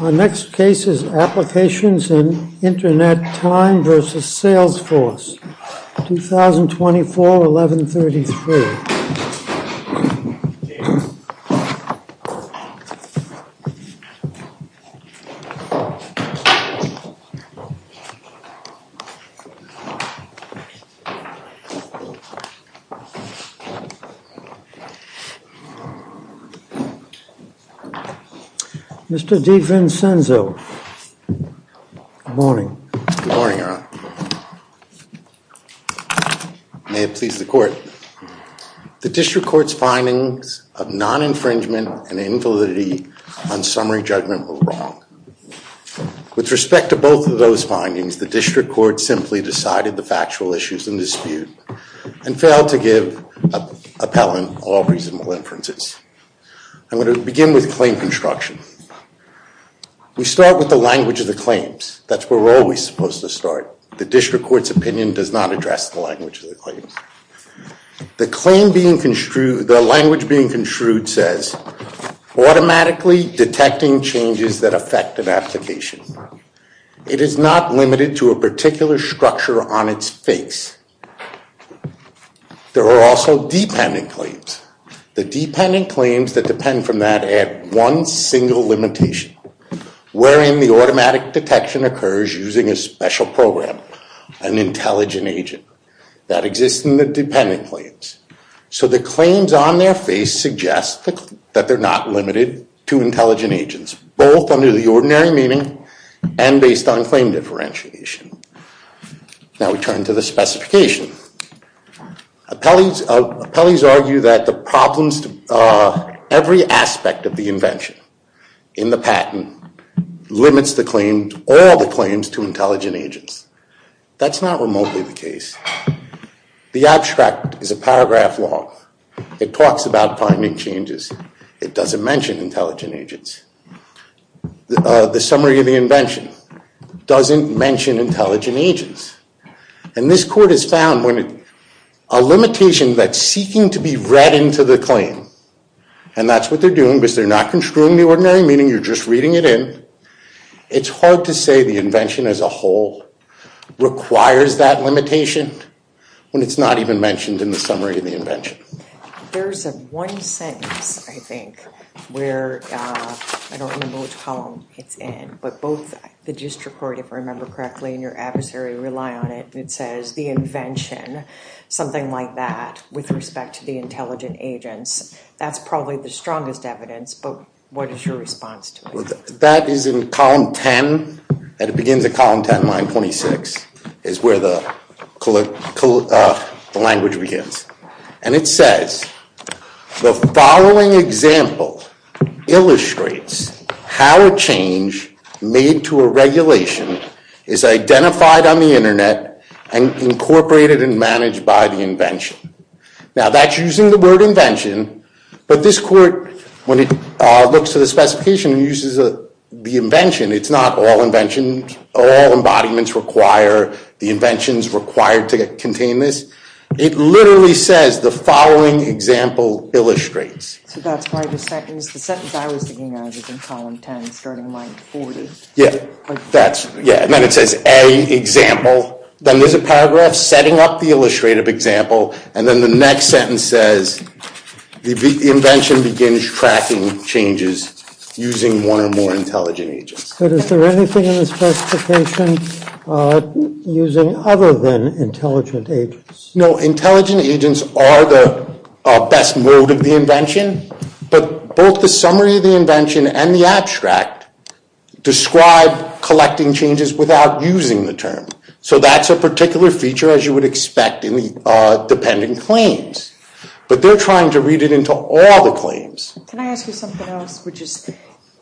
Our next case is Applications In Internet Time v. Salesforce, 2024-11-33. Mr. DeVincenzo, good morning. Good morning, Your Honor. May it please the court. The district court's findings of non-infringement and invalidity on summary judgment were wrong. With respect to both of those findings, the district court simply decided the factual issues in dispute and failed to give appellant all reasonable inferences. I'm going to begin with claim construction. We start with the language of the claims. That's where we're always supposed to start. The district court's opinion does not address the language of the claims. The claim being construed, the language being construed says, automatically detecting changes that affect an application. It is not limited to a particular structure on its face. There are also dependent claims. The dependent claims that depend from that add one single limitation, wherein the automatic detection occurs using a special program, an intelligent agent. That exists in the dependent claims. So the claims on their face suggest that they're not limited to intelligent agents, both under the ordinary meaning and based on claim differentiation. Now we turn to the specification. Appellees argue that every aspect of the invention in the patent limits all the claims to intelligent agents. That's not remotely the case. The abstract is a paragraph long. It talks about finding changes. It doesn't mention intelligent agents. The summary of the invention doesn't mention intelligent agents. And this court has found a limitation that's seeking to be read into the claim. And that's what they're doing because they're not construing the ordinary meaning. You're just reading it in. It's hard to say the invention as a whole requires that limitation when it's not even mentioned in the summary of the invention. There's one sentence, I think, where I don't remember which column it's in. But both the district court, if I remember correctly, and your adversary rely on it. It says the invention, something like that, with respect to the intelligent agents. That's probably the strongest evidence. But what is your response to it? That is in column 10. And it begins at column 10, line 26 is where the language begins. And it says, the following example illustrates how a change made to a regulation is identified on the internet and incorporated and managed by the invention. Now, that's using the word invention. But this court, when it looks at the specification, uses the invention. It's not all invention. All embodiments require the inventions required to contain this. It literally says, the following example illustrates. So that's part of the sentence. The sentence I was thinking of is in column 10, starting line 40. Yeah. That's, yeah. And then it says, a example. Then there's a paragraph setting up the illustrative example. And then the next sentence says, the invention begins tracking changes using one or more intelligent agents. But is there anything in this specification using other than intelligent agents? No. Intelligent agents are the best mode of the invention. But both the summary of the invention and the abstract describe collecting changes without using the term. So that's a particular feature, as you would expect in the dependent claims. But they're trying to read it into all the claims. Can I ask you something else, which is,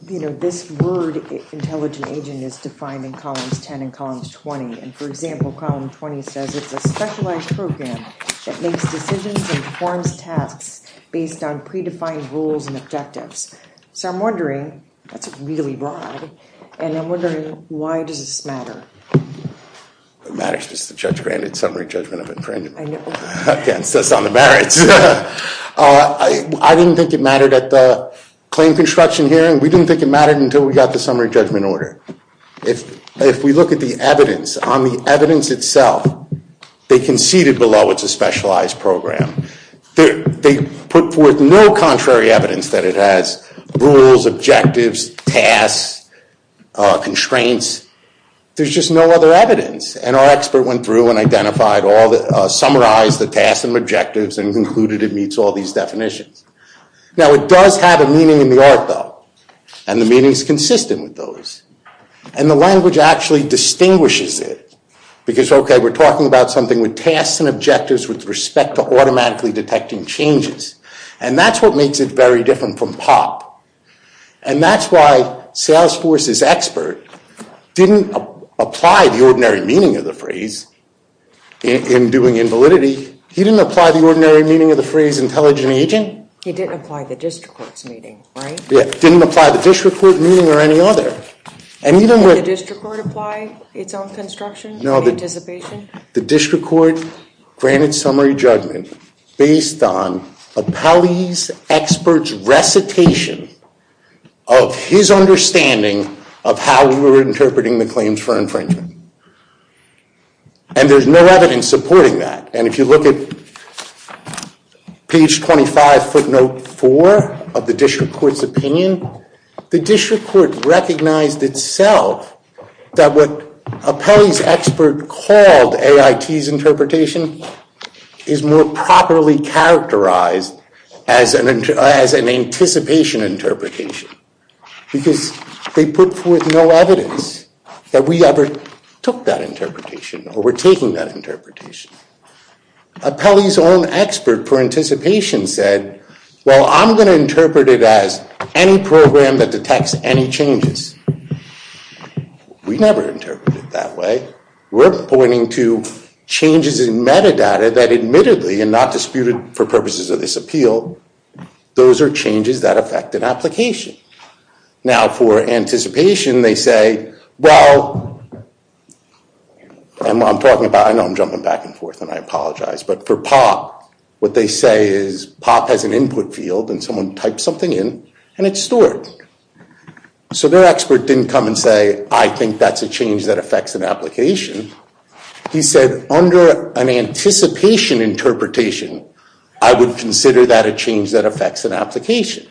you know, this word intelligent agent is defined in columns 10 and columns 20. And for example, column 20 says, it's a specialized program that makes decisions and performs tasks based on predefined rules and objectives. So I'm wondering, that's really broad. And I'm wondering, why does this matter? It matters because the judge granted summary judgment of infringement. I know. Against us on the merits. I didn't think it mattered at the claim construction hearing. We didn't think it mattered until we got the summary judgment order. If we look at the evidence, on the evidence itself, they conceded below it's a specialized program. They put forth no contrary evidence that it has rules, objectives, tasks, constraints. There's just no other evidence. And our expert went through and summarized the tasks and objectives and concluded it meets all these definitions. Now, it does have a meaning in the art, though. And the meaning is consistent with those. And the language actually distinguishes it. Because, OK, we're talking about something with tasks and objectives with respect to automatically detecting changes. And that's what makes it very different from POP. And that's why Salesforce's expert didn't apply the ordinary meaning of the phrase in doing invalidity. He didn't apply the ordinary meaning of the phrase intelligent agent. He didn't apply the district court's meaning, right? Didn't apply the district court meaning or any other. Did the district court apply its own construction in anticipation? No. The district court granted summary judgment based on a police expert's recitation of his understanding of how we were interpreting the claims for infringement. And there's no evidence supporting that. And if you look at page 25 footnote 4 of the district court's opinion, the district court recognized itself that what a police expert called AIT's interpretation is more properly characterized as an anticipation interpretation. Because they put forth no evidence that we ever took that interpretation or were taking that interpretation. A Pelley's own expert for anticipation said, well, I'm going to interpret it as any program that detects any changes. We never interpreted it that way. We're pointing to changes in metadata that admittedly and not disputed for purposes of this appeal, those are changes that affect an application. Now for anticipation, they say, well, I'm talking about, I know I'm jumping back and forth and I apologize. But for POP, what they say is POP has an input field and someone typed something in and it's stored. So their expert didn't come and say, I think that's a change that affects an application. He said, under an anticipation interpretation, I would consider that a change that affects an application.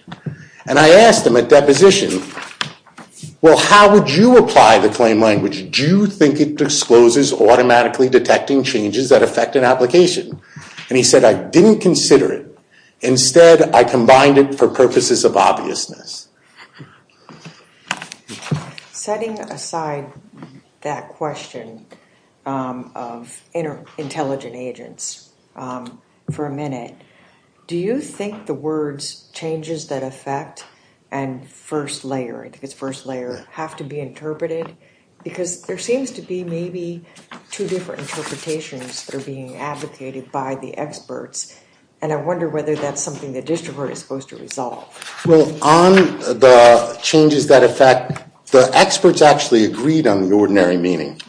And I asked him at deposition, well, how would you apply the claim language? Do you think it discloses automatically detecting changes that affect an application? And he said, I didn't consider it. Instead, I combined it for purposes of obviousness. Setting aside that question of intelligent agents for a minute, do you think the words changes that affect and first layer, I think it's first layer, have to be interpreted? Because there seems to be maybe two different interpretations that are being advocated by the experts. And I wonder whether that's something the district court is supposed to resolve. Well, on the changes that affect, the experts actually agreed on the ordinary meaning.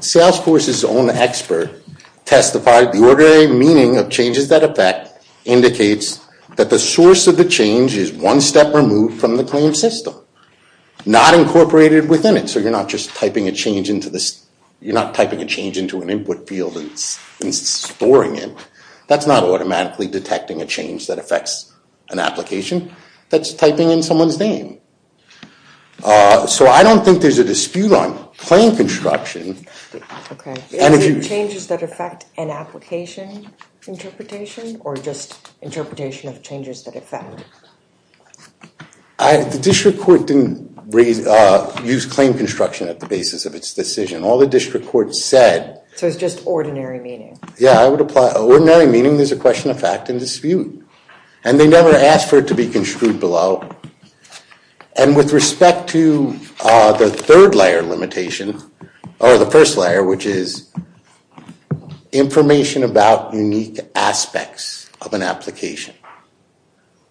Salesforce's own expert testified the ordinary meaning of changes that affect indicates that the source of the change is one step removed from the claim system, not incorporated within it. So you're not just typing a change into an input field and storing it. That's not automatically detecting a change that affects an application. That's typing in someone's name. So I don't think there's a dispute on claim construction. OK. Is it changes that affect an application interpretation? Or just interpretation of changes that affect? The district court didn't use claim construction at the basis of its decision. All the district court said. So it's just ordinary meaning? Yeah, I would apply ordinary meaning. There's a question of fact and dispute. And they never asked for it to be construed below. And with respect to the third layer limitation, or the first layer, which is information about unique aspects of an application.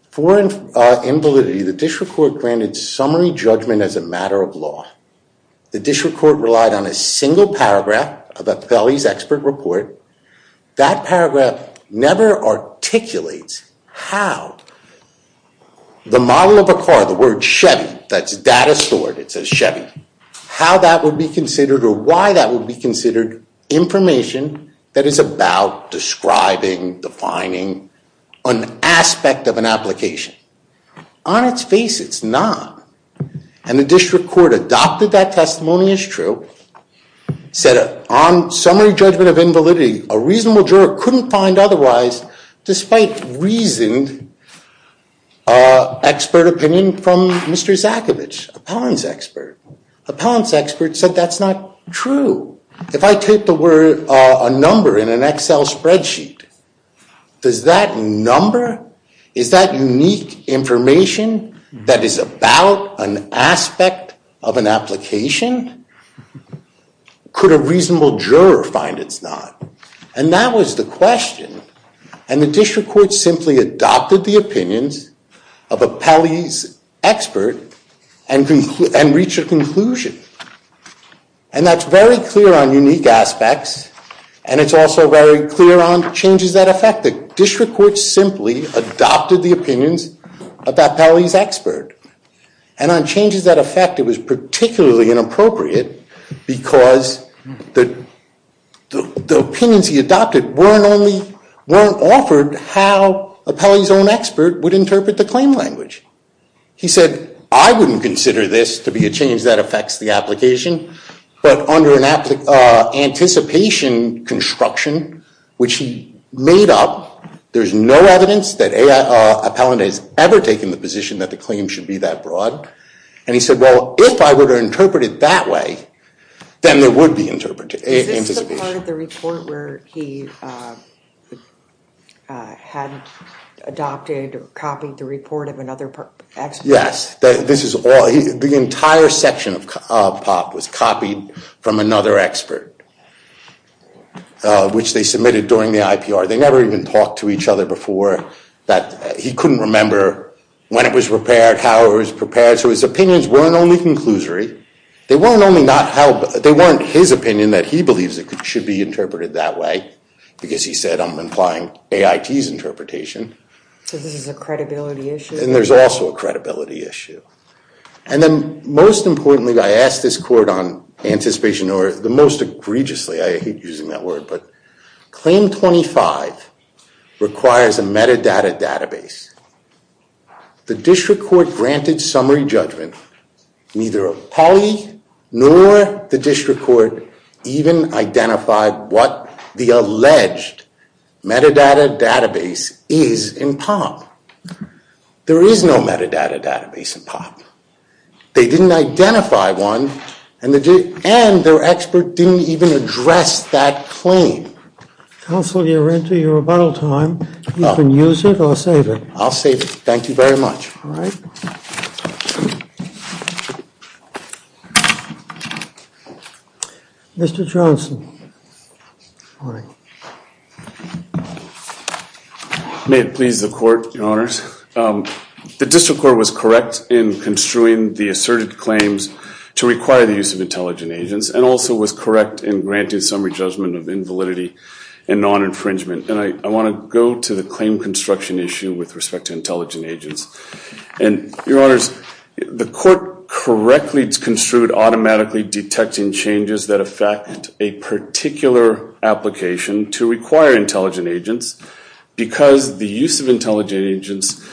For invalidity, the district court granted summary judgment as a matter of law. The district court relied on a single paragraph of a Pelley's expert report. That paragraph never articulates how the model of a car, the word Chevy, that's data stored. It says Chevy. How that would be considered, or why that would be considered information that is about describing, defining an aspect of an application. On its face, it's not. And the district court adopted that testimony as true. Said on summary judgment of invalidity, a reasonable juror couldn't find otherwise, despite reasoned expert opinion from Mr. Zakovich, appellant's expert. Appellant's expert said that's not true. If I take the word, a number in an Excel spreadsheet, does that number, is that unique information that is about an aspect of an application? Could a reasonable juror find it's not? And that was the question. And the district court simply adopted the opinions of a Pelley's expert and reached a conclusion. And that's very clear on unique aspects. And it's also very clear on changes that affect it. District court simply adopted the opinions of that Pelley's expert. And on changes that affect it was particularly inappropriate because the opinions he adopted weren't offered how a Pelley's own expert would interpret the claim language. He said, I wouldn't consider this to be a change that affects the application. But under an anticipation construction, which he made up, there's no evidence that Appellant has ever taken the position that the claim should be that broad. And he said, well, if I were to interpret it that way, then there would be anticipation. Is this the part of the report where he had adopted or copied the report of another expert? Yes. The entire section of POP was copied from another expert, which they submitted during the IPR. They never even talked to each other before. He couldn't remember when it was prepared, how it was prepared. So his opinions weren't only conclusory. They weren't his opinion that he believes it should be interpreted that way because he said, I'm implying AIT's interpretation. So this is a credibility issue? And there's also a credibility issue. And then most importantly, I asked this court on anticipation, or the most egregiously, I hate using that word, but claim 25 requires a metadata database. The district court granted summary judgment. Neither Apolli nor the district court even identified what the alleged metadata database is in POP. There is no metadata database in POP. They didn't identify one, and their expert didn't even address that claim. Counsel, you're into your rebuttal time. You can use it or save it. I'll save it. Thank you very much. All right. Mr. Johnson. May it please the court, your honors. The district court was correct in construing the asserted claims to require the use of intelligent agents and also was correct in granting summary judgment of invalidity and non-infringement. And I want to go to the claim construction issue with respect to intelligent agents. And, your honors, the court correctly construed automatically detecting changes that affect a particular application to require intelligent agents because the use of intelligent agents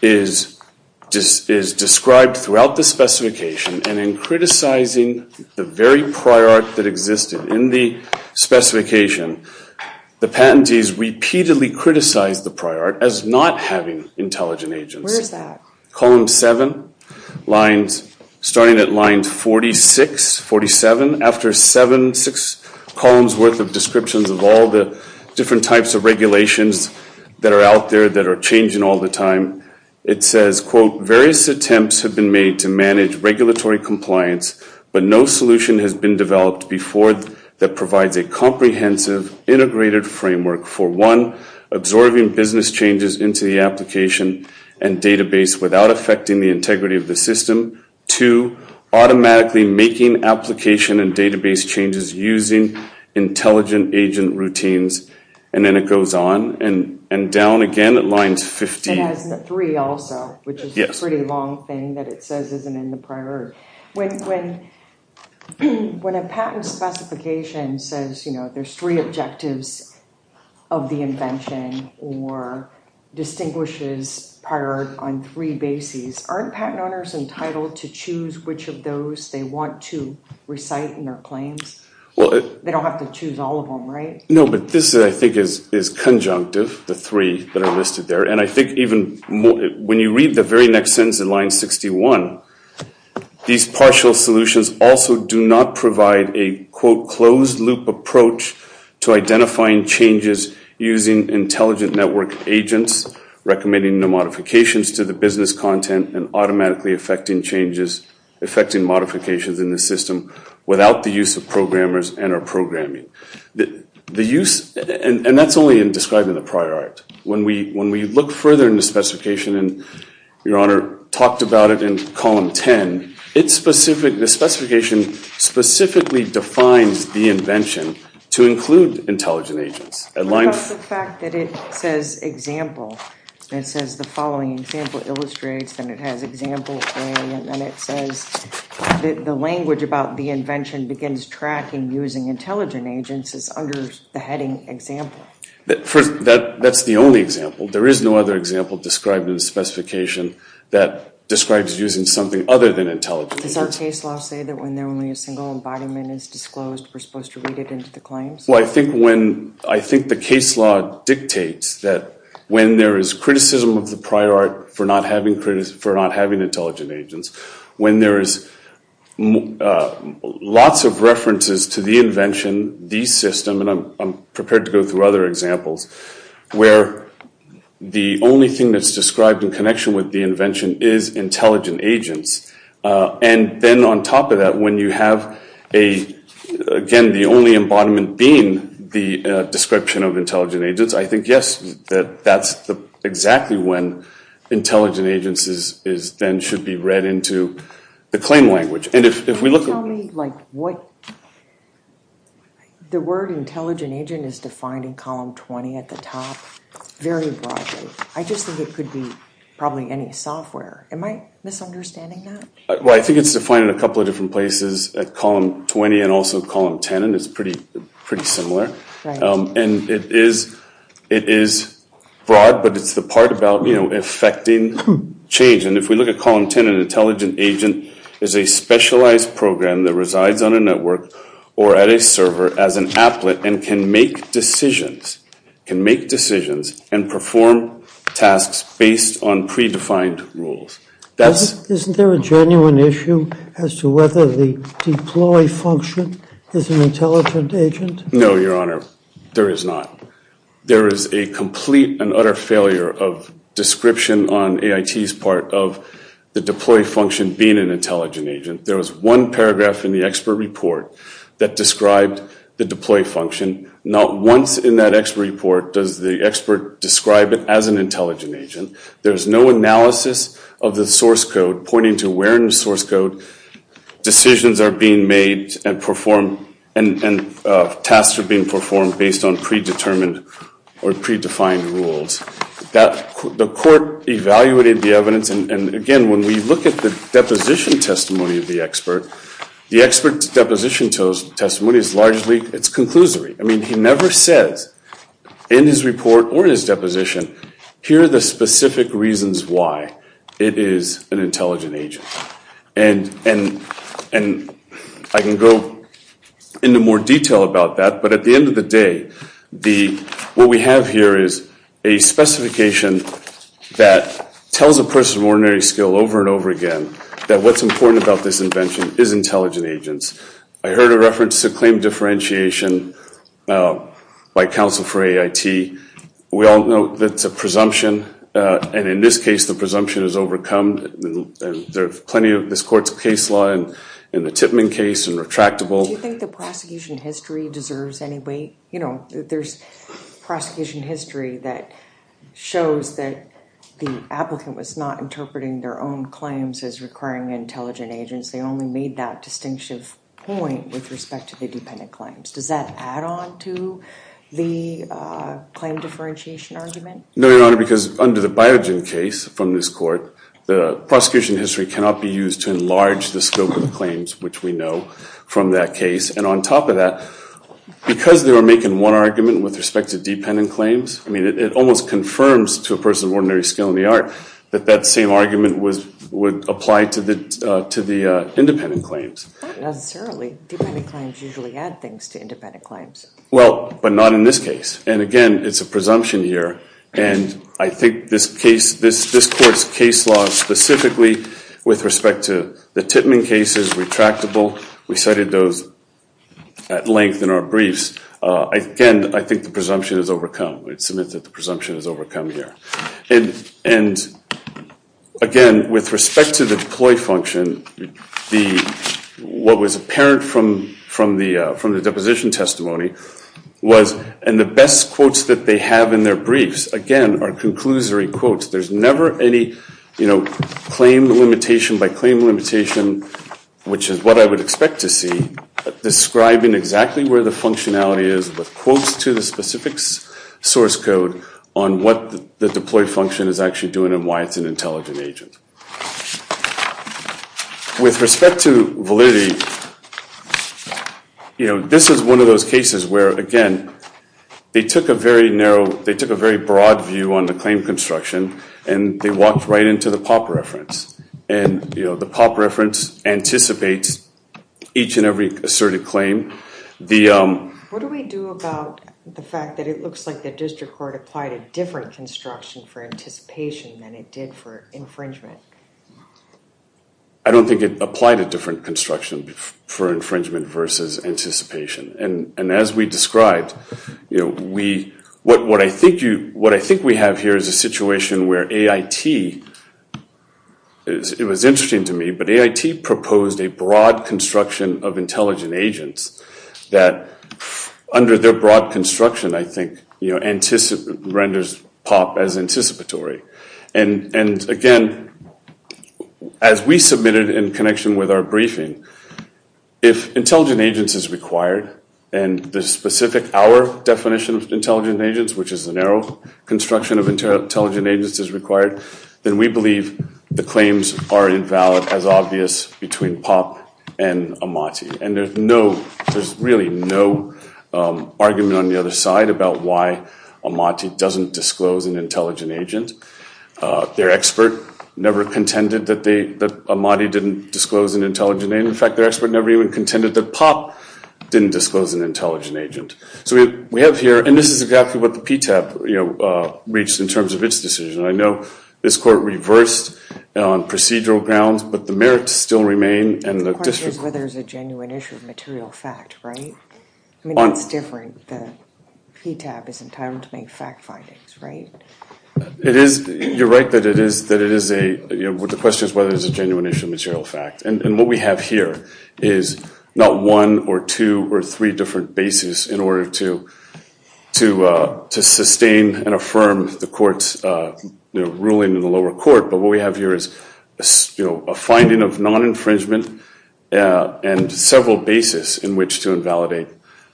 is described throughout the specification and in criticizing the very prior art that existed in the specification. The patentees repeatedly criticized the prior art as not having intelligent agents. Where is that? Column 7, starting at line 46, 47. After seven, six columns worth of descriptions of all the different types of regulations that are out there that are changing all the time, it says, quote, various attempts have been made to manage regulatory compliance, but no solution has been developed before that provides a comprehensive integrated framework for, one, absorbing business changes into the application and database without affecting the integrity of the system, two, automatically making application and database changes using intelligent agent routines, and then it goes on and down again at lines 15. It has three also, which is a pretty long thing that it says isn't in the prior art. When a patent specification says there's three objectives of the invention or distinguishes prior art on three bases, aren't patent owners entitled to choose which of those they want to recite in their claims? They don't have to choose all of them, right? No, but this, I think, is conjunctive, the three that are listed there, and I think even when you read the very next sentence in line 61, these partial solutions also do not provide a, quote, closed-loop approach to identifying changes using intelligent network agents, recommending the modifications to the business content and automatically affecting changes, affecting modifications in the system without the use of programmers and our programming. The use, and that's only in describing the prior art. When we look further in the specification, and Your Honor talked about it in column 10, the specification specifically defines the invention to include intelligent agents. Because the fact that it says example, and it says the following example illustrates, and it has example A, and then it says the language about the invention begins tracking using intelligent agents is under the heading example. That's the only example. There is no other example described in the specification that describes using something other than intelligent agents. Does our case law say that when only a single embodiment is disclosed, we're supposed to read it into the claims? Well, I think the case law dictates that when there is criticism of the prior art for not having intelligent agents, when there is lots of references to the invention, the system, and I'm prepared to go through other examples, where the only thing that's described in connection with the invention is intelligent agents, and then on top of that, when you have, again, the only embodiment being the description of intelligent agents, I think, yes, that's exactly when intelligent agents then should be read into the claim language. Can you tell me what the word intelligent agent is defined in column 20 at the top? Very broadly. I just think it could be probably any software. Am I misunderstanding that? Well, I think it's defined in a couple of different places, at column 20 and also column 10, and it's pretty similar. And it is broad, but it's the part about effecting change. And if we look at column 10, an intelligent agent is a specialized program that resides on a network or at a server as an applet and can make decisions and perform tasks based on predefined rules. Isn't there a genuine issue as to whether the deploy function is an intelligent agent? No, Your Honor, there is not. There is a complete and utter failure of description on AIT's part of the deploy function being an intelligent agent. There was one paragraph in the expert report that described the deploy function. Not once in that expert report does the expert describe it as an intelligent agent. There is no analysis of the source code pointing to where in the source code decisions are being made and tasks are being performed based on predetermined or predefined rules. The court evaluated the evidence, and again, when we look at the deposition testimony of the expert, the expert's deposition testimony is largely, it's conclusory. I mean, he never says in his report or his deposition, here are the specific reasons why it is an intelligent agent. And I can go into more detail about that, but at the end of the day, what we have here is a specification that tells a person of ordinary skill over and over again that what's important about this invention is intelligent agents. I heard a reference to claim differentiation by counsel for AIT. We all know that's a presumption, and in this case, the presumption is overcome. There's plenty of this court's case law in the Tippman case and retractable. Do you think the prosecution history deserves any weight? You know, there's prosecution history that shows that the applicant was not interpreting their own claims as requiring intelligent agents. They only made that distinctive point with respect to the dependent claims. Does that add on to the claim differentiation argument? No, Your Honor, because under the Biogen case from this court, the prosecution history cannot be used to enlarge the scope of the claims, which we know from that case. And on top of that, because they were making one argument with respect to dependent claims, I mean, it almost confirms to a person of ordinary skill in the art that that same argument would apply to the independent claims. Not necessarily. Dependent claims usually add things to independent claims. Well, but not in this case. And again, it's a presumption here, and I think this court's case law specifically with respect to the Tippman cases, retractable, we cited those at length in our briefs. Again, I think the presumption is overcome. It's a myth that the presumption is overcome here. And again, with respect to the deploy function, what was apparent from the deposition testimony was in the best quotes that they have in their briefs, again, are conclusory quotes. There's never any claim limitation by claim limitation, which is what I would expect to see, describing exactly where the functionality is, but quotes to the specific source code on what the deploy function is actually doing and why it's an intelligent agent. With respect to validity, you know, this is one of those cases where, again, they took a very narrow, they took a very broad view on the claim construction, and they walked right into the POP reference. And, you know, the POP reference anticipates each and every asserted claim. What do we do about the fact that it looks like the district court applied a different construction for anticipation than it did for infringement? I don't think it applied a different construction for infringement versus anticipation. And as we described, you know, what I think we have here is a situation where AIT, it was interesting to me, but AIT proposed a broad construction of intelligent agents that under their broad construction, I think, renders POP as anticipatory. And, again, as we submitted in connection with our briefing, if intelligent agents is required and the specific, our definition of intelligent agents, which is a narrow construction of intelligent agents is required, then we believe the claims are invalid as obvious between POP and Amati. And there's no, there's really no argument on the other side about why Amati doesn't disclose an intelligent agent. Their expert never contended that they, that Amati didn't disclose an intelligent agent. In fact, their expert never even contended that POP didn't disclose an intelligent agent. So we have here, and this is exactly what the PTAB reached in terms of its decision. I know this court reversed on procedural grounds, but the merits still remain. The question is whether it's a genuine issue of material fact, right? I mean, it's different. The PTAB is entitled to make fact findings, right? It is. You're right that it is, that it is a, you know, the question is whether it's a genuine issue of material fact. And what we have here is not one or two or three different bases in order to sustain and affirm the court's ruling in the lower court, but what we have here is, you know, a finding of non-infringement and several bases in which to invalidate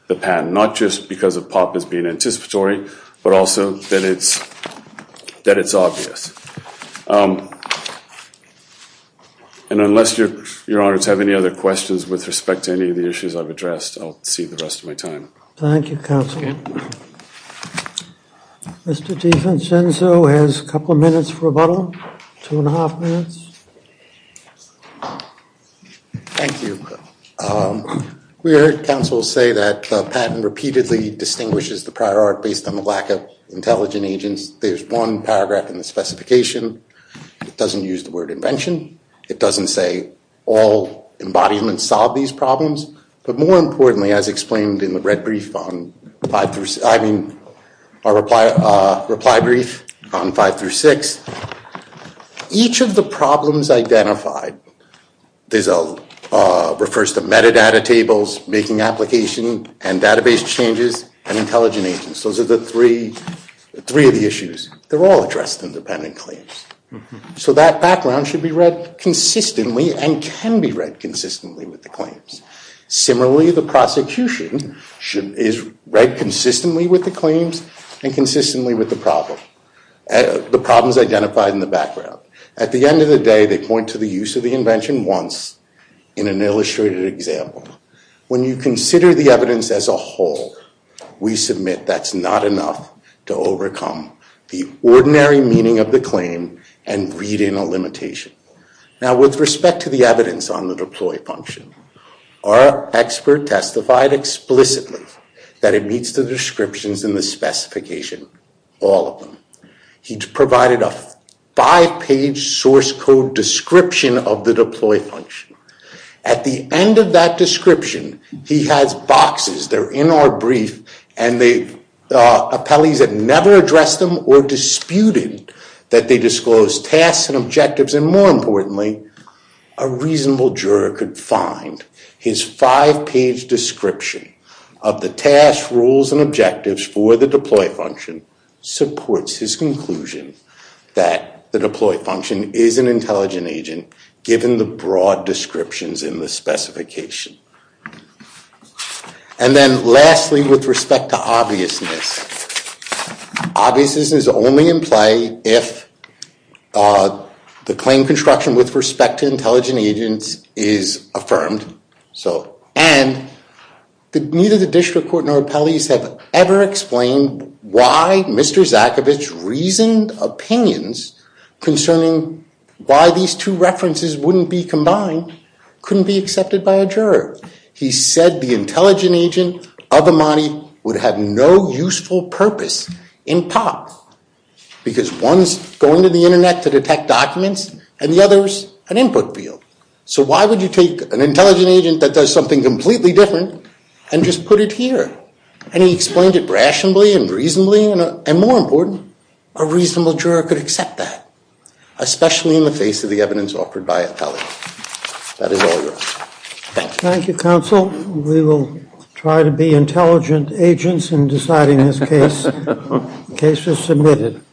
the patent, not just because of POP as being anticipatory, but also that it's obvious. And unless your honors have any other questions with respect to any of the issues I've addressed, I'll cede the rest of my time. Thank you, counsel. Mr. DeVincenzo has a couple of minutes for rebuttal, two and a half minutes. Thank you. We heard counsel say that the patent repeatedly distinguishes the prior art based on the lack of intelligent agents. There's one paragraph in the specification. It doesn't use the word invention. It doesn't say all embodiments solve these problems. But more importantly, as explained in the red brief on five through, I mean, our reply brief on five through six, each of the problems identified refers to metadata tables, making application and database changes, and intelligent agents. Those are the three of the issues. They're all addressed in dependent claims. So that background should be read consistently and can be read consistently with the claims. Similarly, the prosecution is read consistently with the claims and consistently with the problem, the problems identified in the background. At the end of the day, they point to the use of the invention once in an illustrated example. When you consider the evidence as a whole, we submit that's not enough to overcome the ordinary meaning of the claim and read in a limitation. Now, with respect to the evidence on the deploy function, our expert testified explicitly that it meets the descriptions in the specification, all of them. He provided a five page source code description of the deploy function. At the end of that description, he has boxes. They're in our brief. And the appellees have never addressed them or disputed that they disclose tasks and objectives. And more importantly, a reasonable juror could find his five page description of the tasks, rules, and objectives for the deploy function supports his conclusion that the deploy function is an intelligent agent, given the broad descriptions in the specification. And then lastly, with respect to obviousness. Obviousness is only in play if the claim construction with respect to intelligent agents is affirmed. And neither the district court nor appellees have ever explained why Mr. references wouldn't be combined, couldn't be accepted by a juror. He said the intelligent agent of Imani would have no useful purpose in POP, because one's going to the internet to detect documents, and the other's an input field. So why would you take an intelligent agent that does something completely different and just put it here? And he explained it rationally and reasonably, and more important, a reasonable juror could accept that, especially in the face of the evidence offered by appellee. That is all. Thank you. Thank you, counsel. We will try to be intelligent agents in deciding this case. Case is submitted.